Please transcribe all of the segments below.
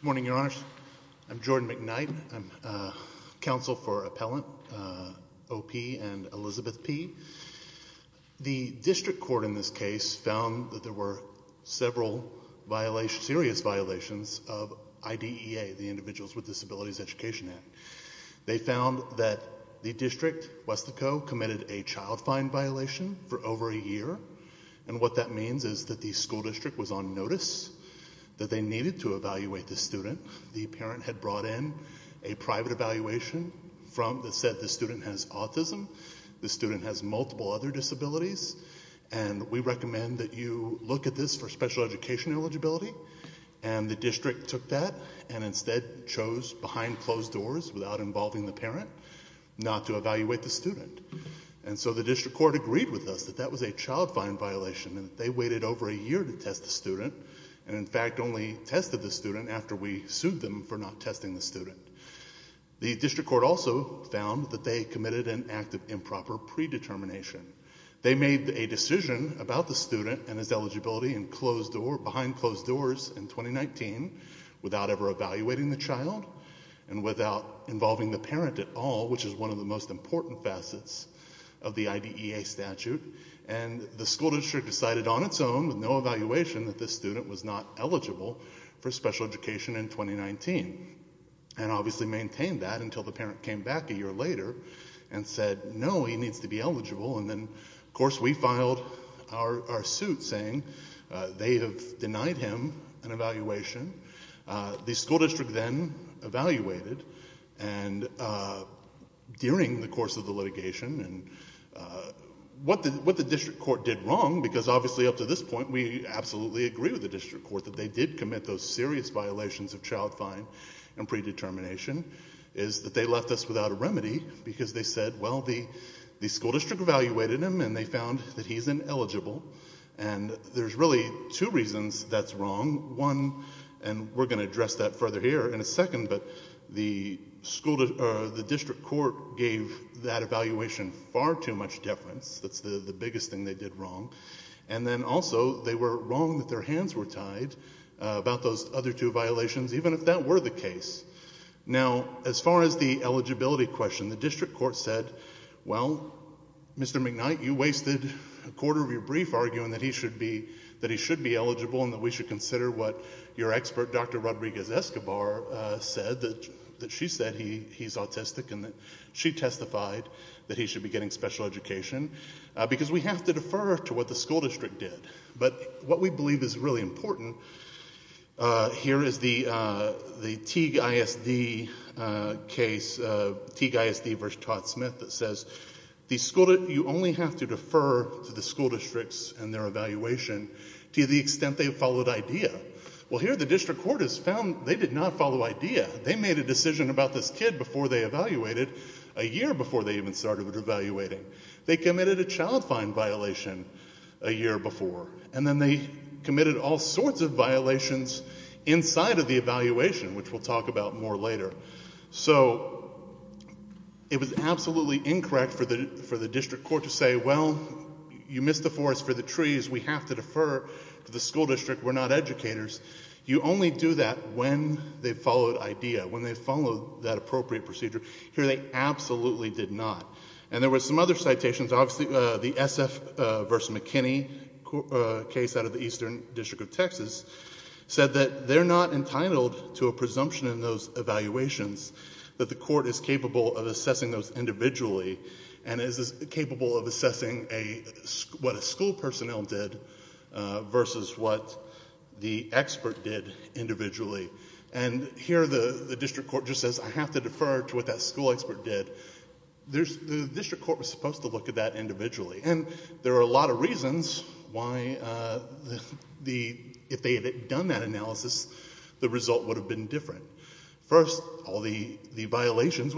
Morning, Your Honors. I'm Jordan McKnight. I'm counsel for Appellant, O.P. and Alleged Elizabeth P. The district court in this case found that there were several serious violations of IDEA, the Individuals with Disabilities Education Act. They found that the district, Weslaco, committed a child fine violation for over a year, and what that means is that the school district was on notice that they needed to evaluate the student. The parent had brought in a private evaluation that said the student has autism, the student has multiple other disabilities, and we recommend that you look at this for special education eligibility, and the district took that and instead chose, behind closed doors, without involving the parent, not to evaluate the student. And so the district court agreed with us that that was a child fine violation, and they waited over a year to test the student, and in fact only tested the student after we sued them for not testing the student. The district court also found that they committed an act of improper predetermination. They made a decision about the student and his eligibility behind closed doors in 2019 without ever evaluating the child, and without involving the parent at all, which is one of the most important facets of the IDEA statute, and the school district decided on its own, with no evaluation, that this student was not eligible for special education in 2019, and obviously maintained that until the parent came back a year later and said, no, he needs to be eligible, and then, of course, we filed our suit saying they have denied him an evaluation. The school district then evaluated, and during the course of the litigation, and what the absolutely agree with the district court, that they did commit those serious violations of child fine and predetermination, is that they left us without a remedy, because they said, well, the school district evaluated him, and they found that he's ineligible, and there's really two reasons that's wrong. One, and we're going to address that further here in a second, but the school district, or the district court, gave that evaluation far too much deference. That's the biggest thing they did wrong, and then also, they were wrong that their hands were tied about those other two violations, even if that were the case. Now, as far as the eligibility question, the district court said, well, Mr. McKnight, you wasted a quarter of your brief arguing that he should be eligible and that we should consider what your expert, Dr. Rodriguez-Escobar, said, that she said he's autistic, and that she testified that he should be getting special education, because we have to defer to what the school district did. But what we believe is really important, here is the Teague ISD case, Teague ISD v. Todd-Smith, that says, you only have to defer to the school districts and their evaluation to the extent they followed IDEA. Well, here the district court has found they did not follow IDEA. They made a decision about this kid before they evaluated, a year before they even started evaluating. They committed a child fine violation a year before, and then they committed all sorts of violations inside of the evaluation, which we'll talk about more later. So, it was absolutely incorrect for the district court to say, well, you missed the forest for the trees, we have to defer to the school district, we're not educators. You only do that when they followed IDEA, when they followed that appropriate procedure. Here they absolutely did not. And there were some other citations, obviously the SF v. McKinney case out of the Eastern District of Texas said that they're not entitled to a presumption in those evaluations, that the court is capable of assessing those individually, and is capable of assessing what a school personnel did versus what the expert did individually. And here the district court just says, I have to defer to what that school expert did. The district court was supposed to look at that individually. And there are a lot of reasons why if they had done that analysis, the result would have been different. First, all the violations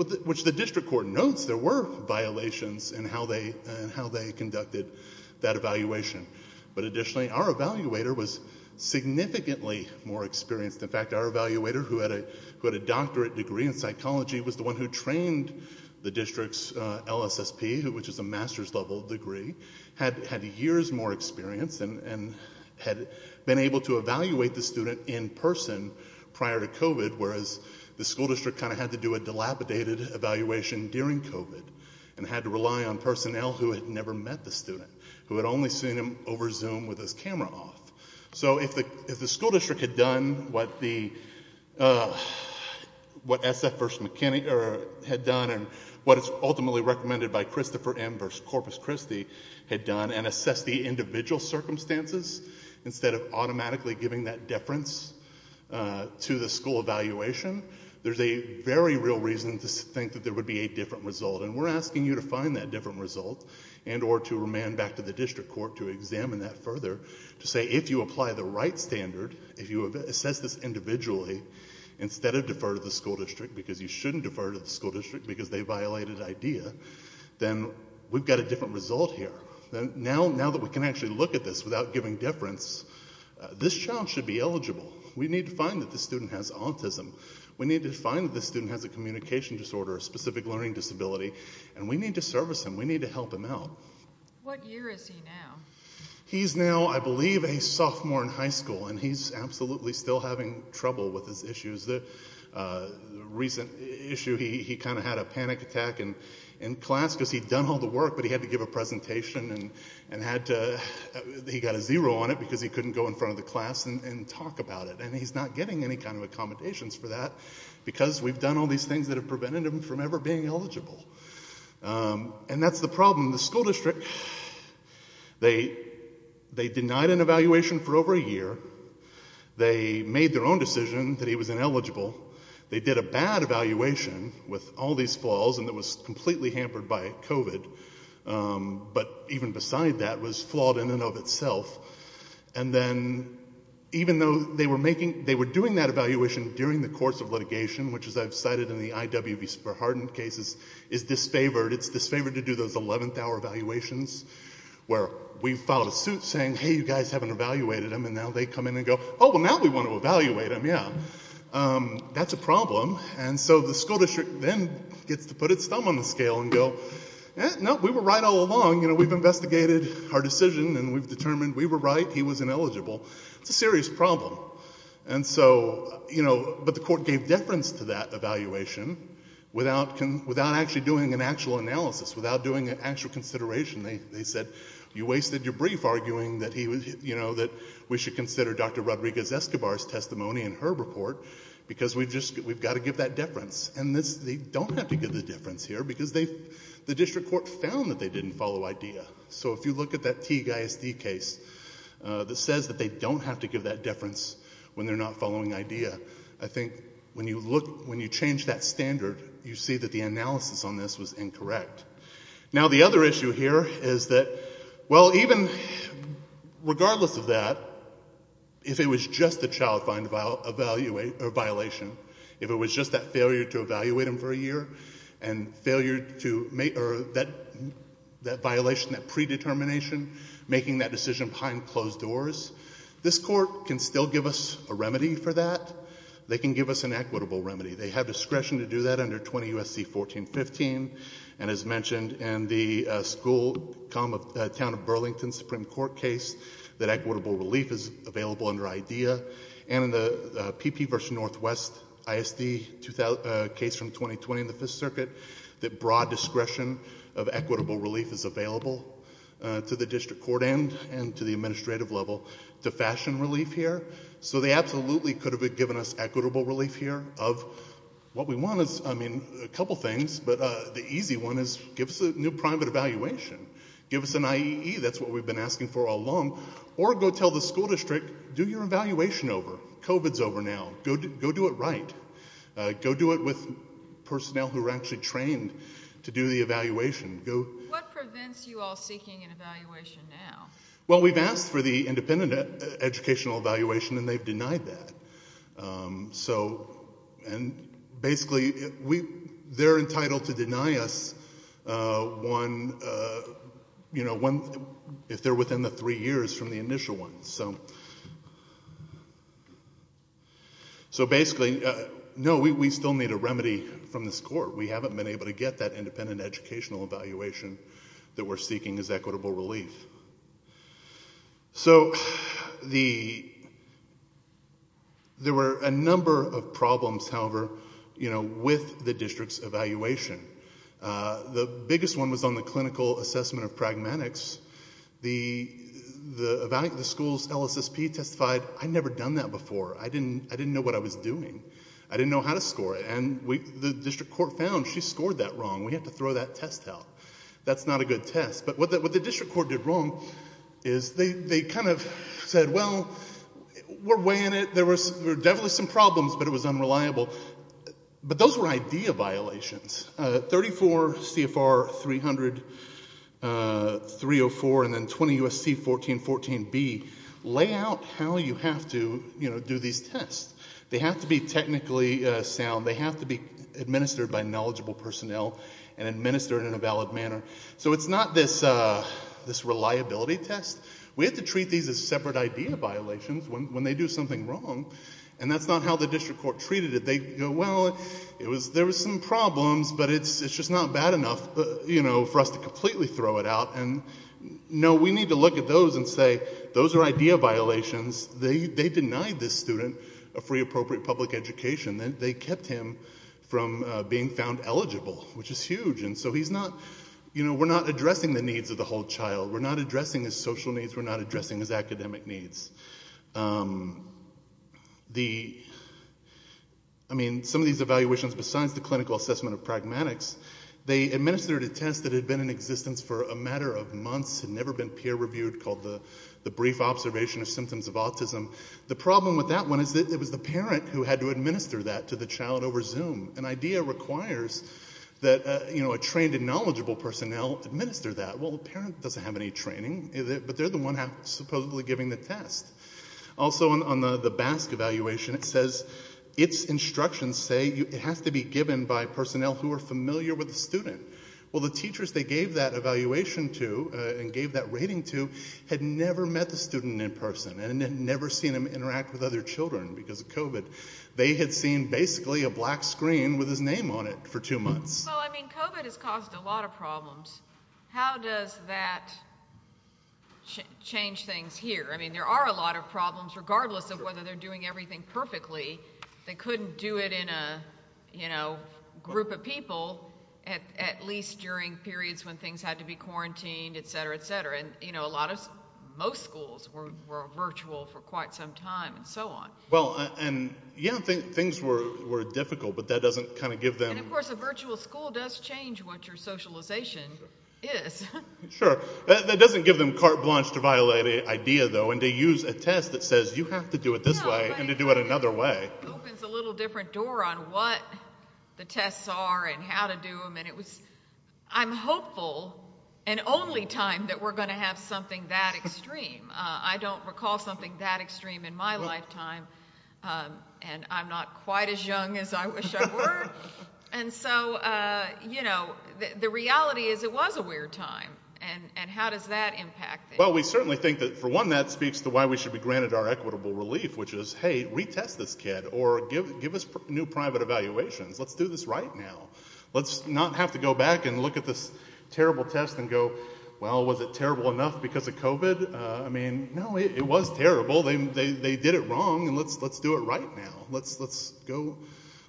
and how they conducted that evaluation. But additionally, our evaluator was significantly more experienced. In fact, our evaluator who had a doctorate degree in psychology was the one who trained the district's LSSP, which is a master's level degree, had years more experience and had been able to evaluate the student in person prior to COVID, whereas the school district kind of had to do a dilapidated evaluation during COVID and had to rely on personnel who had never met the student, who had only seen him over Zoom with his camera off. So if the school district had done what the, what SF v. McKinney had done and what is ultimately recommended by Christopher M. v. Corpus Christi had done and assessed the student, there's a very real reason to think that there would be a different result. And we're asking you to find that different result and or to remand back to the district court to examine that further, to say if you apply the right standard, if you assess this individually instead of defer to the school district because you shouldn't defer to the school district because they violated IDEA, then we've got a different result here. Now that we can actually look at this without giving deference, this child should be eligible. We need to find that this student has autism. We need to find that this student has a communication disorder, a specific learning disability, and we need to service him. We need to help him out. What year is he now? He's now, I believe, a sophomore in high school and he's absolutely still having trouble with his issues. The recent issue, he kind of had a panic attack in class because he'd done all the work, but he had to give a presentation and had to, he got a zero on it because he couldn't go in front of the class and talk about it. And he's not getting any kind of accommodations for that because we've done all these things that have prevented him from ever being eligible. And that's the problem. The school district, they denied an evaluation for over a year. They made their own decision that he was ineligible. They did a bad evaluation with all these flaws and it was completely hampered by COVID. But even beside that was flawed in and of itself. And then even though they were doing that evaluation during the course of litigation, which as I've cited in the IWB super hardened cases, is disfavored. It's disfavored to do those 11th hour evaluations where we filed a suit saying, hey, you guys haven't evaluated him. And now they come in and go, oh, well now we want to evaluate him. Yeah. That's a problem. And so the school district then gets to put its thumb on the scale and go, eh, no, we were right all along. We've been investigating our decision and we've determined we were right. He was ineligible. It's a serious problem. And so, you know, but the court gave deference to that evaluation without actually doing an actual analysis, without doing an actual consideration. They said, you wasted your brief arguing that we should consider Dr. Rodriguez-Escobar's testimony in her report because we've got to give that deference. And they don't have to give the difference here because they, the district court found that they didn't follow IDEA. So if you look at that Teague ISD case that says that they don't have to give that deference when they're not following IDEA, I think when you look, when you change that standard, you see that the analysis on this was incorrect. Now the other issue here is that, well, even, regardless of that, if it was just a child find violation, if it was just that failure to evaluate him for a year, and failure to make, or that violation, that predetermination, making that decision behind closed doors, this court can still give us a remedy for that. They can give us an equitable remedy. They have discretion to do that under 20 U.S.C. 1415. And as mentioned in the school, town of Burlington Supreme Court case, that equitable relief is available under IDEA. And in the PP versus Northwest ISD case from 2020 in the 5th Circuit, that broad discretion of equitable relief is available to the district court and to the administrative level to fashion relief here. So they absolutely could have given us equitable relief here of, what we want is, I mean, a couple things, but the easy one is give us a new private evaluation. Give us an IEE. That's what we've been asking for all along. Or go tell the school, do your evaluation over. COVID's over now. Go do it right. Go do it with personnel who are actually trained to do the evaluation. What prevents you all seeking an evaluation now? Well, we've asked for the independent educational evaluation, and they've denied that. So, and basically, they're entitled to deny us one, you know, if they're within the three years from the initial one. So basically, no, we still need a remedy from this court. We haven't been able to get that independent educational evaluation that we're seeking as equitable relief. So the, there were a number of problems, however, you know, with the district's evaluation. The biggest one was on the clinical assessment of pragmatics. The evaluation, the school's LSSP testified, I've never done that before. I didn't, I didn't know what I was doing. I didn't know how to score it. And we, the district court found she scored that wrong. We have to throw that test out. That's not a good test. But what the district court did wrong is they, they kind of said, well, we're weighing it. There were, there were definitely some problems, but it was unreliable. But those were idea violations. 34 CFR 300, 304, and then 20 USC 1414B lay out how you have to, you know, do these tests. They have to be technically sound. They have to be administered by knowledgeable personnel and administered in a valid manner. So it's not this, this reliability test. We get to treat these as separate idea violations when, when they do something wrong. And that's not how the district court treated it. They go, well, it was, there was some problems, but it's, it's just not bad enough, you know, for us to completely throw it out. And no, we need to look at those and say, those are idea violations. They, they denied this student a free appropriate public education. They kept him from being found eligible, which is huge. And so he's not, you know, we're not addressing the needs of the whole child. We're not addressing his social needs. We're not addressing his academic needs. The, I mean, some of these evaluations, besides the clinical assessment of pragmatics, they administered a test that had been in existence for a matter of months and never been peer reviewed called the brief observation of symptoms of autism. The problem with that one is that it was the parent who had to administer that to the child over Zoom. An idea requires that, you know, a trained and knowledgeable personnel administer that. Well, the parent doesn't have any training, but they're the one who's supposedly giving the test. Also on the BASC evaluation, it says its instructions say it has to be given by personnel who are familiar with the student. Well, the teachers they gave that evaluation to and gave that rating to had never met the student in person and had never seen him interact with other children because of COVID. They had seen basically a black screen with his name on it for two months. Well, I mean, COVID has caused a lot of problems. How does that change things here? I mean, there are a lot of problems, regardless of whether they're doing everything perfectly. They couldn't do it in a, you know, group of people, at least during periods when things had to be quarantined, et cetera, et cetera. And, you know, a lot of, most schools were virtual for quite some time and so on. Well, and yeah, I think things were difficult, but that doesn't kind of give them. And of course, a virtual school does change what your socialization is. Sure. That doesn't give them carte blanche to violate an idea, though, and to use a test that says you have to do it this way and to do it another way. Opens a little different door on what the tests are and how to do them. And it was, I'm hopeful and only time that we're going to have something that extreme. I don't recall something that extreme in my lifetime. And I'm not quite as young as I wish I were. And so, you know, the reality is it was a weird time. And how does that impact? Well, we certainly think that, for one, that speaks to why we should be granted our equitable relief, which is, hey, retest this kid or give us new private evaluations. Let's do this right now. Let's not have to go back and look at this terrible test and go, well, was it terrible enough because of COVID? I mean, no, it was terrible. They did it wrong. And let's do it right now. Let's go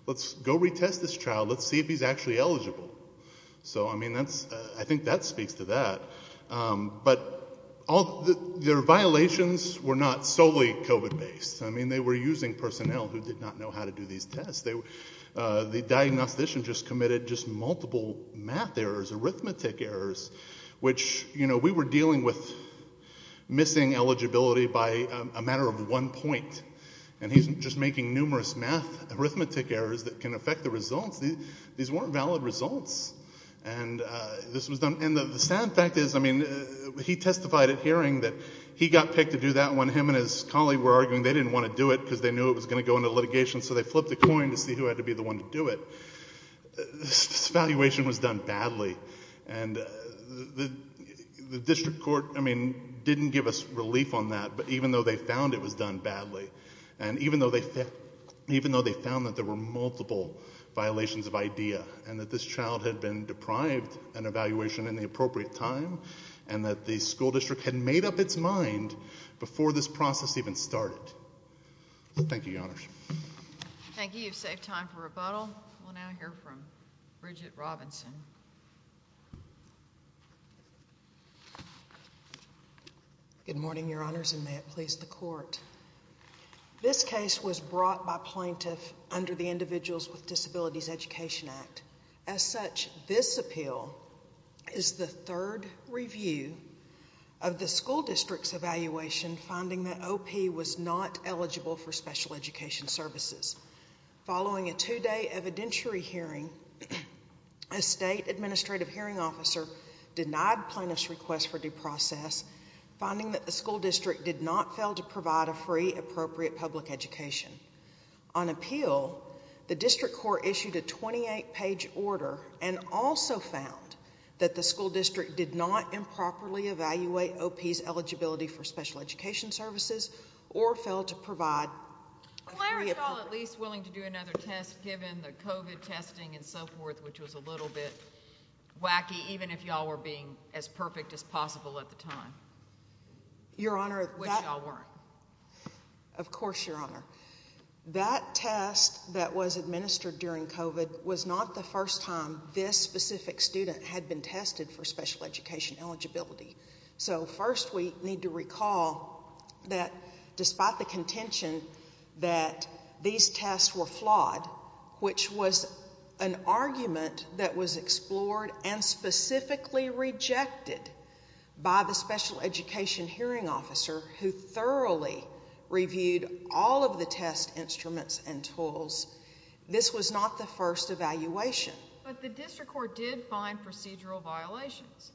retest this child. Let's see if he's actually eligible. So, I mean, I think that speaks to that. But their violations were not solely COVID-based. I mean, they were using personnel who did not know how to do these tests. The We were dealing with missing eligibility by a matter of one point. And he's just making numerous arithmetic errors that can affect the results. These weren't valid results. And the sad fact is, I mean, he testified at hearing that he got picked to do that when him and his colleague were arguing they didn't want to do it because they knew it was going to go into litigation. So they flipped the coin to see who had to be the one to do it. This evaluation was done badly. And the district court, I mean, didn't give us relief on that. But even though they found it was done badly, and even though they found that there were multiple violations of IDEA, and that this child had been deprived an evaluation in the appropriate time, and that the school district had made up its mind before this process even started. Thank you, Your Honors. Thank you. You've saved time for rebuttal. We'll now hear from Bridget Robinson. Good morning, Your Honors, and may it please the Court. This case was brought by plaintiff under the Individuals with Disabilities Education Act. As such, this appeal is the third review of the school district's evaluation finding that OP was not eligible for special education services. Following a two-day evidentiary hearing, a state administrative hearing officer denied plaintiff's request for due process, finding that the school district did not fail to provide a free, appropriate public education. On appeal, the district court issued a 28-page order, and also found that the school district did not improperly evaluate OP's eligibility for special education services, or failed to provide a free, appropriate public education. Clare, is y'all at least willing to do another test, given the COVID testing and so forth, which was a little bit wacky, even if y'all were being as perfect as possible at the time? This was the first time this specific student had been tested for special education eligibility. So first, we need to recall that despite the contention that these tests were flawed, which was an argument that was explored and specifically rejected by the special education hearing officer, who thoroughly reviewed all of the test instruments and tools, this was not the first evaluation. But the district court did find procedural violations.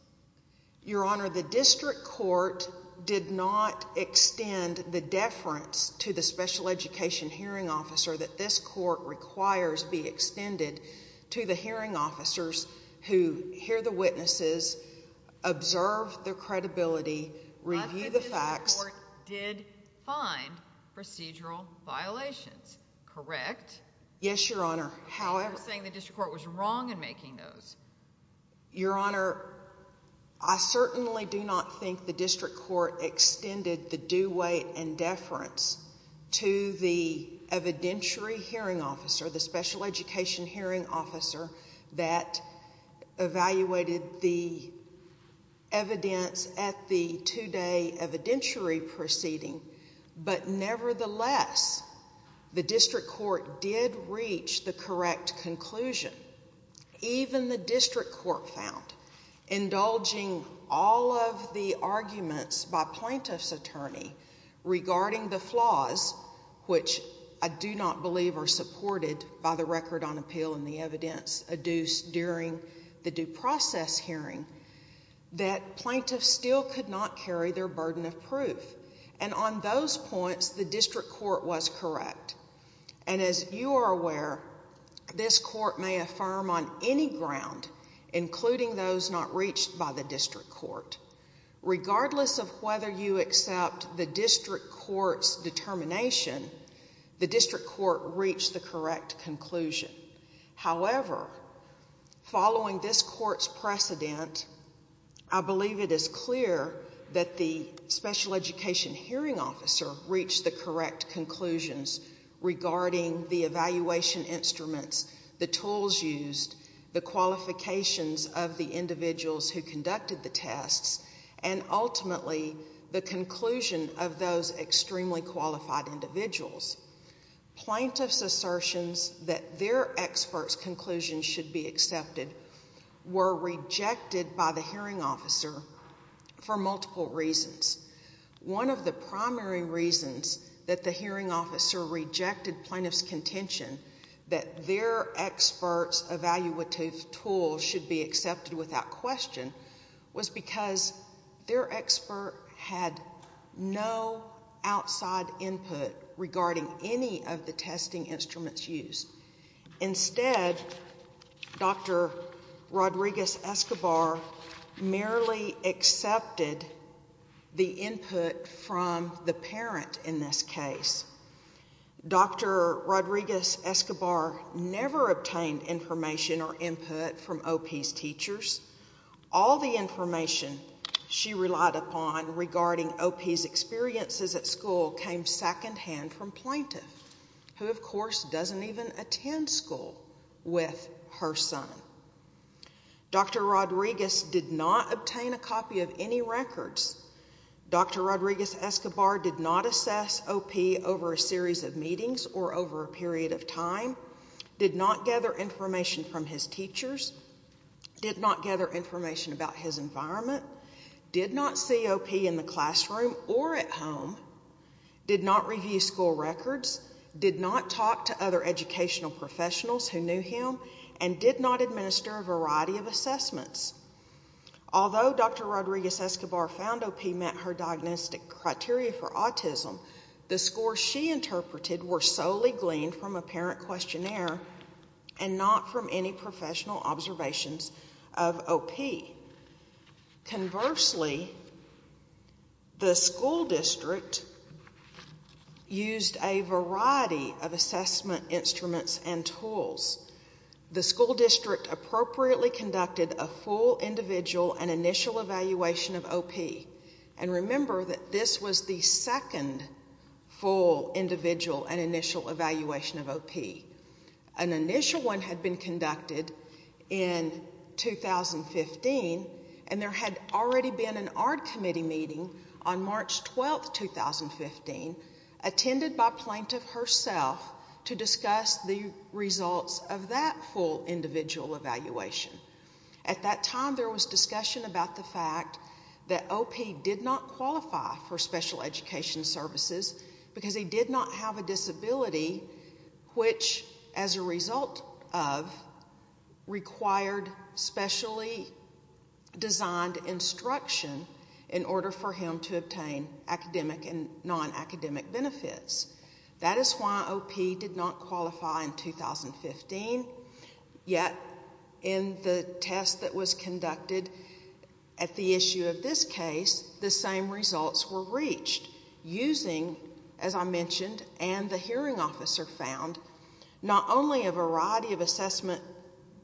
Your Honor, the district court did not extend the deference to the special education hearing officer that this court requires be extended to the hearing officers who hear the witnesses, observe their credibility, review the facts. But the district court did find procedural violations, correct? Yes, Your Honor. However— You're saying the district court was wrong in making those. Your Honor, I certainly do not think the district court extended the due weight and deference to the evidentiary hearing officer, the special education hearing officer, that evaluated the evidence at the two-day evidentiary proceeding. But nevertheless, the district court did reach the correct conclusion. Even the district court found, indulging all of the arguments by plaintiff's attorney regarding the flaws, which I do not believe are supported by the record on appeal and the evidence adduced during the due process hearing, that plaintiffs still could not carry their burden of proof. And on those points, the district court was correct. And as you are aware, this court may affirm on any ground, including those not reached by the district court. Regardless of whether you accept the district court's However, following this court's precedent, I believe it is clear that the special education hearing officer reached the correct conclusions regarding the evaluation instruments, the tools used, the qualifications of the individuals who conducted the tests, and ultimately the their expert's conclusions should be accepted, were rejected by the hearing officer for multiple reasons. One of the primary reasons that the hearing officer rejected plaintiff's contention that their expert's evaluative tools should be accepted without question was because their Instead, Dr. Rodriguez-Escobar merely accepted the input from the parent in this case. Dr. Rodriguez-Escobar never obtained information or input from OP's teachers. All the information she relied upon regarding OP's experiences at school came secondhand from plaintiff, who of course doesn't even attend school with her son. Dr. Rodriguez did not obtain a copy of any records. Dr. Rodriguez-Escobar did not assess OP over a series of meetings or over a period of time, did not gather information from his teachers, did not gather information about his environment, did not see OP in the classroom or at home, did not review school records, did not talk to other educational professionals who knew him, and did not administer a variety of assessments. Although Dr. Rodriguez-Escobar found OP met her diagnostic criteria for autism, the scores she interpreted were solely gleaned from a parent questionnaire and not from any a variety of assessment instruments and tools. The school district appropriately conducted a full individual and initial evaluation of OP. And remember that this was the second full individual and initial evaluation of OP. An initial one had been conducted in 2015 and there had already been an ARD committee meeting on March 12, 2015, attended by plaintiff herself to discuss the results of that full individual evaluation. At that time there was discussion about the fact that OP did not qualify for special education services because he did not have a disability which as a result of required specially designed instruction in order for him to obtain academic and non-academic benefits. That is why OP did not qualify in 2015, yet in the test that was conducted at the issue of this case, the as I mentioned, and the hearing officer found not only a variety of assessment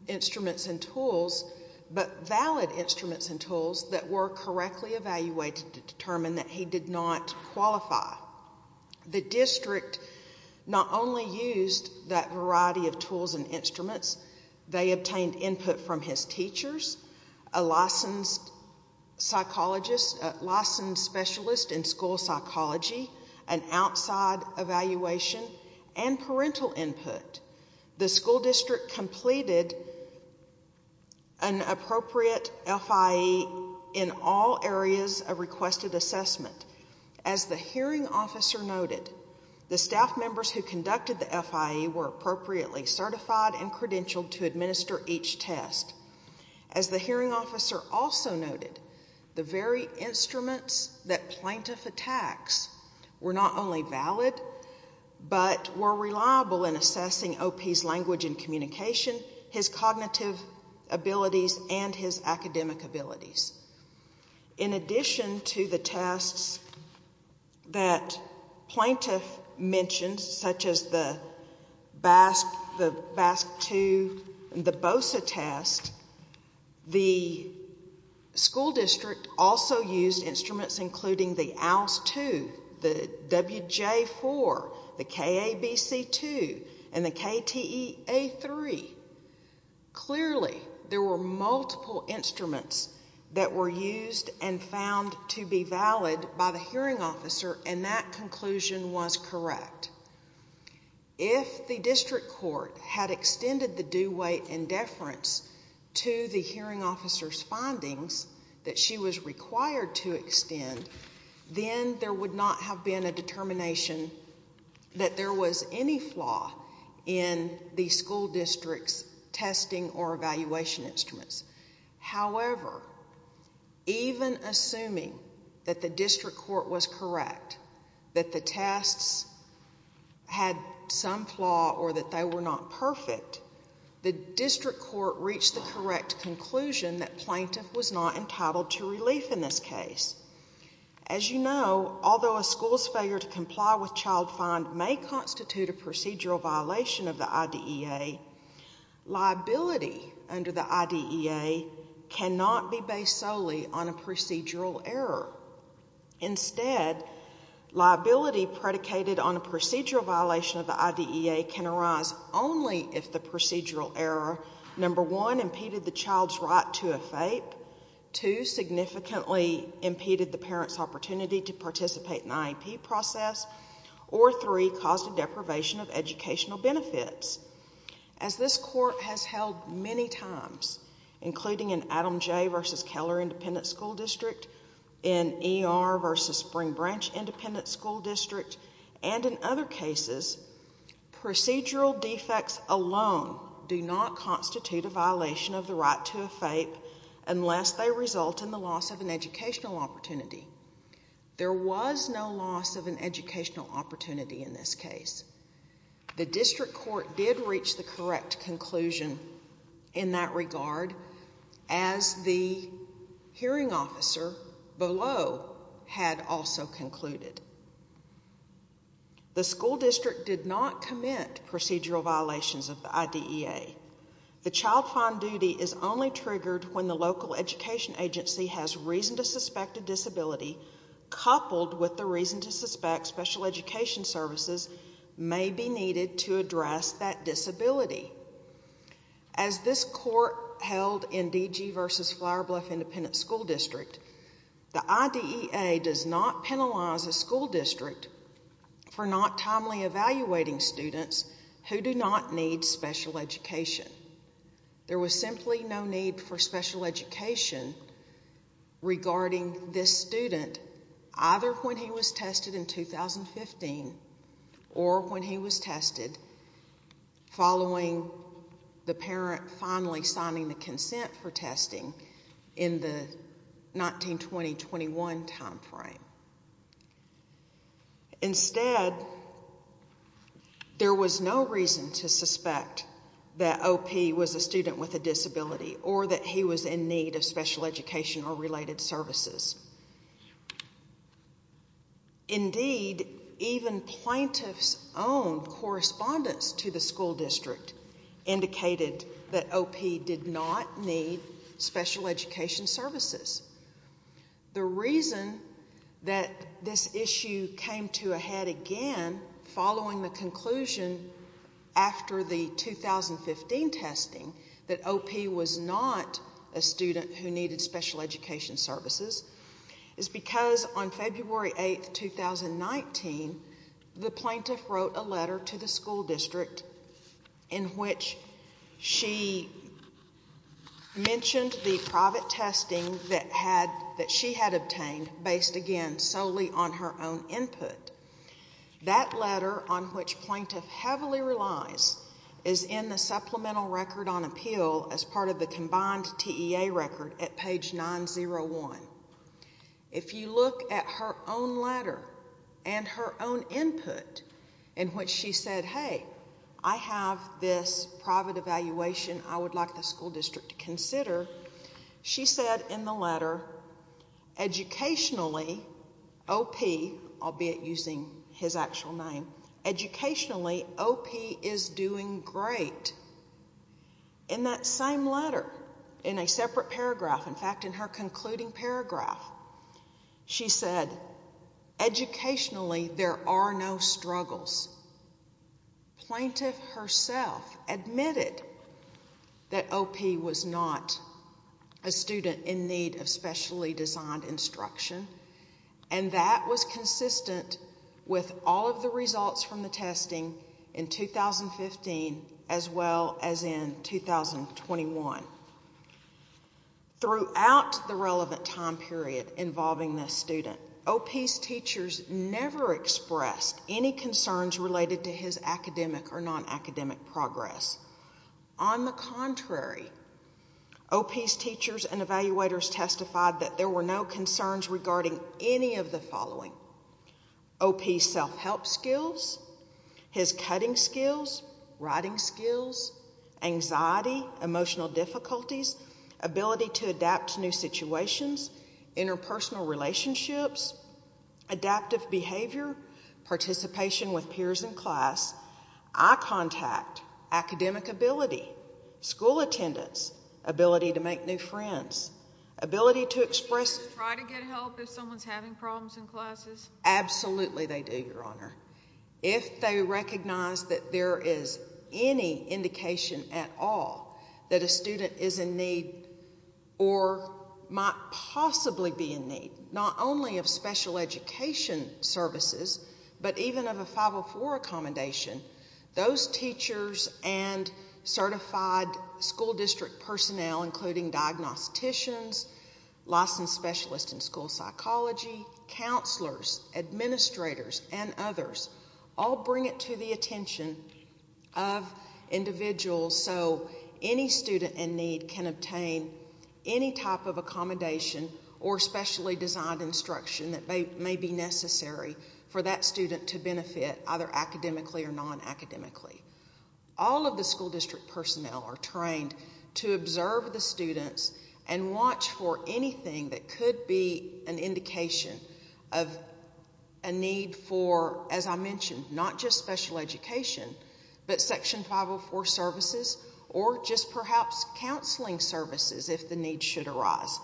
instruments and tools, but valid instruments and tools that were correctly evaluated to determine that he did not qualify. The district not only used that variety of tools and instruments, they obtained input from his teachers, a licensed psychologist, a licensed specialist in school psychology, an outside evaluation, and parental input. The school district completed an appropriate FIE in all areas of requested assessment. As the hearing officer noted, the staff members who conducted the FIE were appropriately certified and credentialed to administer each test. As the hearing officer also noted, the very instruments that plaintiff attacks were not only valid, but were reliable in assessing OP's language and communication, his cognitive abilities and his academic abilities. In addition to the tests that plaintiff mentioned such as the BASC-2 and the BOSA test, the school district also used instruments including the ALS-2, the WJ-4, the KABC-2, and the KTEA-3. Clearly, there were multiple instruments that were used and found to be valid by the hearing officer, and that conclusion was correct. If the district court had extended the due weight and deference to the hearing officer's findings that she was required to extend, then there would not have been a determination that there was any flaw in the school district's testing or evaluation instruments. However, even assuming that the district court was correct, that the tests had some flaw or that they were not perfect, the district court reached the correct conclusion that plaintiff was not entitled to relief in this case. As you know, although a school's failure to comply with child find may constitute a procedural violation of the IDEA, liability under the IDEA cannot be based solely on a procedural error. Instead, liability predicated on a procedural violation of the IDEA can arise only if the procedural error, number one, impeded the child's right to a FAPE, two, significantly impeded the parent's opportunity to participate in the IEP process, or three, caused a deprivation of educational benefits. As this court has held many times, including in Adam J. v. Keller Independent School District, in E.R. v. Spring Branch Independent School District, and in other cases, procedural defects alone do not constitute a violation of the right to a FAPE unless they result in the loss of an educational opportunity. There was no loss of an educational opportunity in this case. The district court did reach the correct conclusion in that regard as the hearing officer below had also concluded. The school district did not commit procedural violations of the IDEA. The child find duty is only triggered when the local education agency has reason to suspect a disability coupled with the reason to suspect special education services may be needed to address that disability. As this court held in D.G. v. Flower Bluff Independent School District, the IDEA does not penalize a school district for not timely evaluating students who do not need special education. There was simply no need for special education regarding this student, either when he was tested in 2015 or when he was tested following the parent finally signing the consent for testing in the 19-20-21 time frame. Instead, there was no reason to suspect that O.P. was a student with a disability or that he was in need of special education or related services. Indeed, even plaintiff's own correspondence to the school district indicated that O.P. did not need special education services. The reason that this issue came to a head again following the conclusion after the 2015 testing that O.P. was not a student who needed special education services is because on February 8, 2019, the plaintiff wrote a letter to the school district in which she mentioned the private testing that she had obtained based again solely on her own input. That letter, on which plaintiff heavily relies, is in the letter 9-01. If you look at her own letter and her own input in which she said, hey, I have this private evaluation I would like the school district to consider, she said in the letter, educationally, O.P., albeit using his actual name, educationally, O.P. is doing great. In that same letter, in a separate paragraph, in fact, in her concluding paragraph, she said, educationally, there are no struggles. Plaintiff herself admitted that O.P. was not a student in need of specially designed instruction and that was consistent with all of the results from the testing in 2015 as well as in 2021. Throughout the relevant time period involving this student, O.P.'s teachers never expressed any concerns related to his academic or non-academic progress. On the contrary, O.P.'s teachers and evaluators testified that there were no concerns regarding any of the following, O.P.'s self-help skills, his cutting skills, writing skills, anxiety, emotional difficulties, ability to adapt to new situations, interpersonal relationships, adaptive behavior, participation with peers in class, eye contact, academic ability, school attendance, ability to make new friends, ability to express... Do teachers try to get help if someone's having problems in classes? Absolutely they do, Your Honor. If they recognize that there is any indication at all that a student is in need or might possibly be in need, not only of special education services, but even of a 504 accommodation, those teachers and certified school district personnel, including diagnosticians, licensed specialists in school psychology, counselors, administrators, and others, all bring it to the attention of individuals so any student in need can obtain any type of accommodation or specially designed instruction that may be necessary for that student to benefit either academically or non-academically. All of the school district personnel are trained to observe the students and watch for anything that could be an indication of a need for, as I mentioned, not just special education, but Section 504 services or just perhaps counseling services if the need should arise.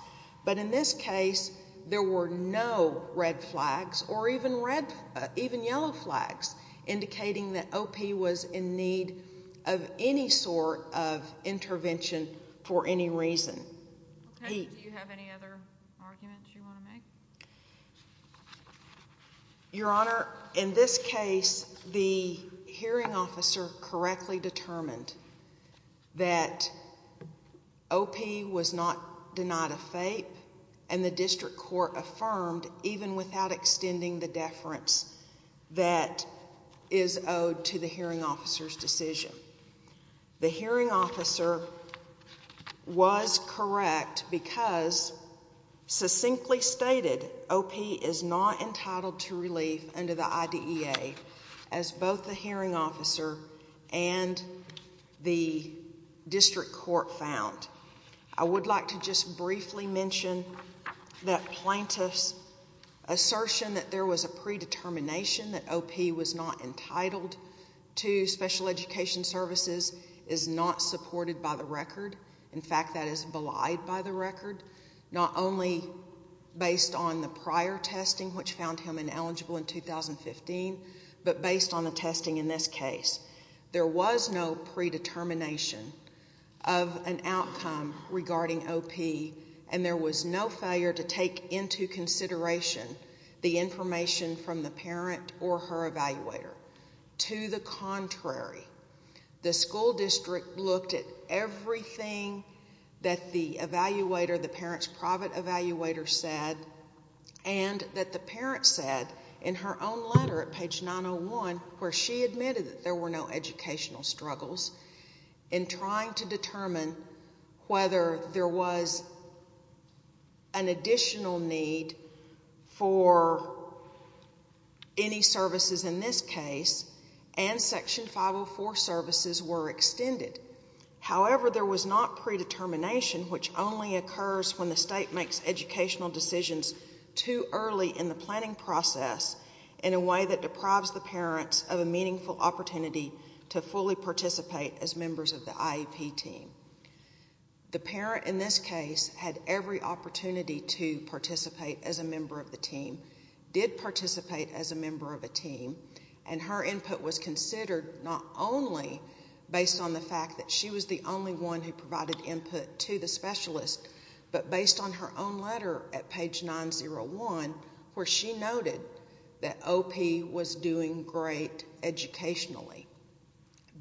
But in this case, there were no red flags or even yellow flags indicating that OP was in need of any sort of intervention for any reason. Do you have any other arguments you want to make? Your Honor, in this case, the hearing officer correctly determined that OP was not denied a FAPE and the district court affirmed even without extending the deference that is owed to the hearing officer's decision. The hearing officer was correct because succinctly stated OP is not entitled to relief under the IDEA as both the hearing officer and the district court found. I would like to just briefly mention that plaintiff's assertion that there was a predetermination that OP was not entitled to special education services is not supported by the record. In fact, that is belied by the record, not only based on the prior testing which found him ineligible in 2015, but based on the testing in this case. There was no predetermination of an outcome regarding OP and there was no failure to take into consideration the information from the parent or her evaluator. To the contrary, the school district looked at everything that the evaluator, the parent's private evaluator said and that the parent said in her own letter at page 901 where she admitted that there were no educational struggles in trying to determine whether there was an additional need for any services in this case and section 504 services were extended. However, there was not predetermination which only provided an opportunity for the parent to fully participate as members of the IEP team. The parent in this case had every opportunity to participate as a member of the team, did participate as a member of the team and her input was considered not only based on the fact that she was the only one who provided input to the specialist, but based on her own letter at page 901 where she noted that OP was doing great educationally.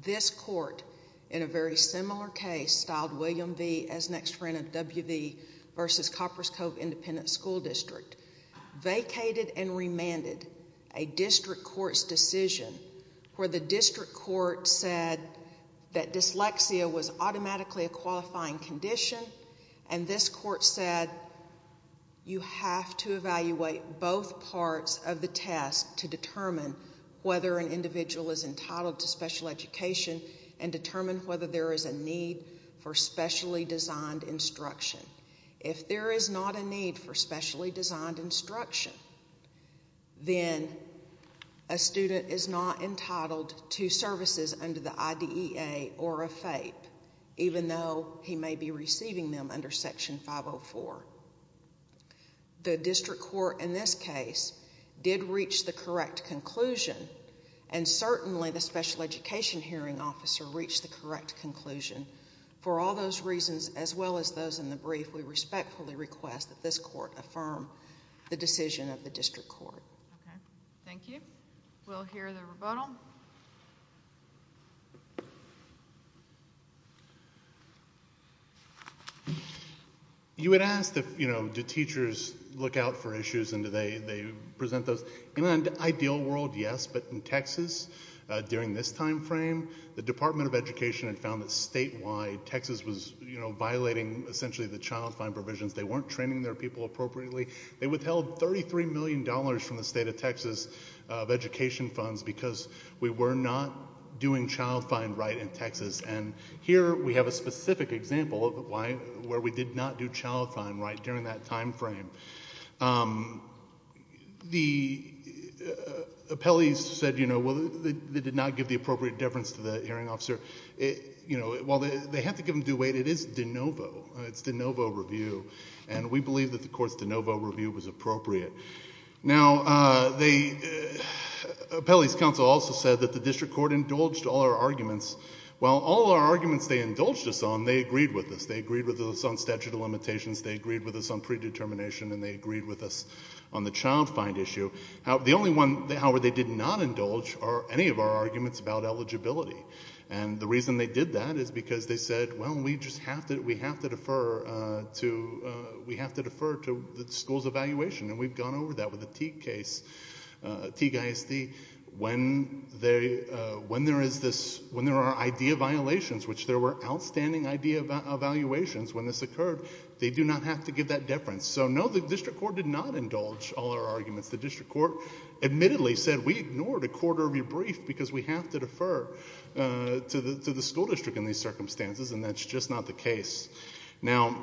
This court in a very similar case styled William V as next friend of WV versus Coppers Cove Independent School District vacated and remanded a district court's decision where the district court said that dyslexia was automatically a qualifying condition and this court said you have to evaluate both parts of the test to determine whether an individual is entitled to special education and determine whether there is a need for specially designed instruction. If there is not a need for specially designed instruction, then a student is not entitled to services under the IDEA or a FAPE even though he may be receiving them under section 504. The district court in this case did reach the correct conclusion and certainly the special education hearing officer reached the correct conclusion. For all those reasons as well as those in the brief, we respectfully request that this court affirm the decision of the district court. You had asked do teachers look out for issues and do they present those. In an ideal world yes, but in Texas during this time frame the Department of Education had found that statewide Texas was violating essentially the child fine provisions. They weren't training their people appropriately. They withheld $33 million from the state of Texas of education funds because we were not doing child fine right in Texas and here we have a specific example of where we did not do child fine right during that time frame. The appellees said they did not give the appropriate deference to the hearing officer. While they have to give them due weight, it is de novo. It's de novo review and we believe that the court's de novo review was appropriate. Now the appellees council also said that the district court indulged all our arguments. While all our arguments they indulged us on, they agreed with us. They agreed with us on statute of limitations. They agreed with us on predetermination and they agreed with us on the child fine issue. The only one however they did not indulge are any of our arguments about eligibility and the reason they did that is because they said well we just have to defer to the school's evaluation and we've gone over that with the Teague ISD. When there are idea violations, which there were outstanding idea evaluations when this occurred, they do not have to give that deference. So no the district court did not indulge all our arguments. The district court admittedly said we ignored a quarter of your brief because we have to defer to the school district in these circumstances and that's just not the case. Now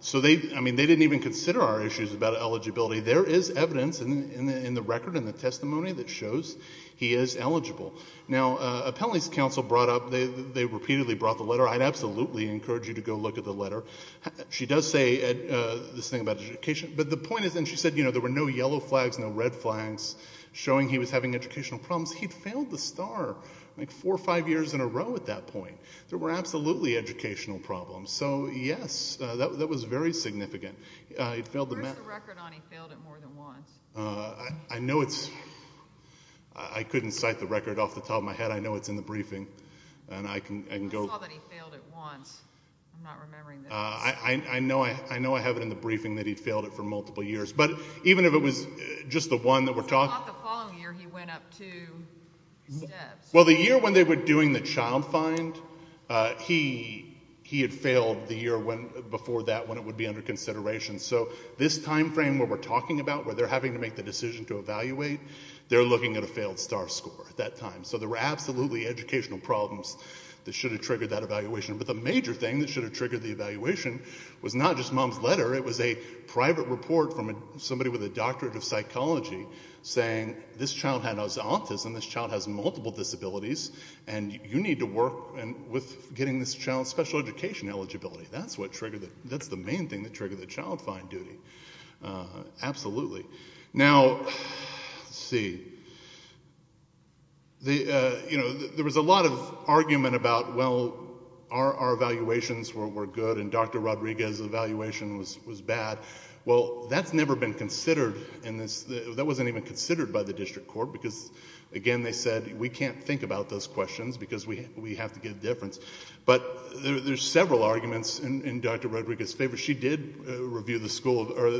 so they, I mean they didn't even consider our issues about eligibility. There is evidence in the record and the testimony that shows he is eligible. Now appellees council brought up, they repeatedly brought the letter. I'd absolutely encourage you to go look at the letter. She does say this thing about education, but the point is and she said there were no yellow flags, no red flags showing he was having educational problems. He'd failed the STAR like four or five years in a row at that point. There were absolutely educational problems. So yes, that was very significant. He'd failed the MET. Where's the record on he failed it more than once? I know it's, I couldn't cite the record off the top of my head. I know it's in the briefing and I can go. I saw that he failed it once. I'm not remembering this. I know I have it in the briefing that he'd failed it for multiple years, but even if it was just the one that we're talking about. He failed the following year he went up two steps. Well the year when they were doing the child find, he had failed the year before that when it would be under consideration. So this time frame where we're talking about, where they're having to make the decision to evaluate, they're looking at a failed STAR score at that time. So there were absolutely educational problems that should have triggered that evaluation. But the major thing that should have triggered the evaluation was not just mom's letter, it was a private report from somebody with a doctorate of psychology saying this child had autism, this child has multiple disabilities and you need to work with getting this child special education eligibility. That's what triggered it. That's the main thing that triggered the child find duty. Absolutely. Now, let's see. There was a lot of argument about, well, our evaluations were good and Dr. Rodriguez's evaluation was bad. Well, that's never been considered in this, that wasn't even considered by the district court because, again, they said we can't think about those questions because we have to get a difference. But there's several arguments in Dr. Rodriguez's favor. She did review the school, or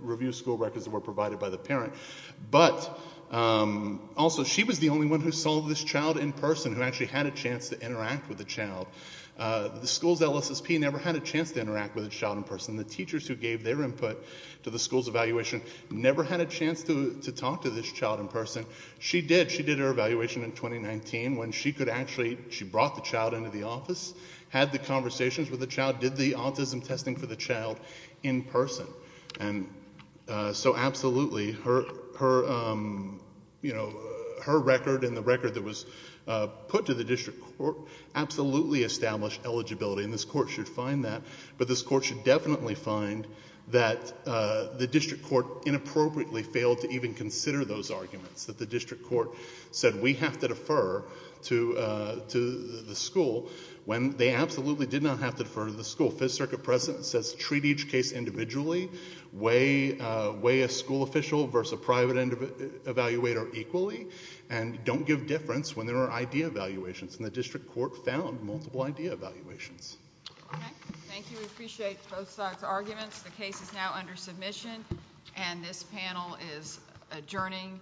review school records that were provided by the parent. But also she was the only one who saw this child in person who actually had a chance to interact with the child. The school's LSSP never had a chance to interact with the child in person. The teachers who gave their input to the school's evaluation never had a chance to talk to this child in person. She did. She did her evaluation in 2019 when she could actually, she brought the child into the office, had the conversations with the child, did the autism testing for the child in person. And so absolutely, her record and the record that was put to the district court absolutely established eligibility. And this court should find that. But this court should definitely find that the district court inappropriately failed to even consider those arguments, that the district court said we have to defer to the school when they absolutely did not have to defer to the school. Fifth Circuit precedent says treat each case individually. Weigh a school official versus private evaluator equally and don't give difference when there are idea evaluations. And the district court found multiple idea evaluations. Okay. Thank you. We appreciate both sides' arguments. The case is now under submission and this panel is adjourning.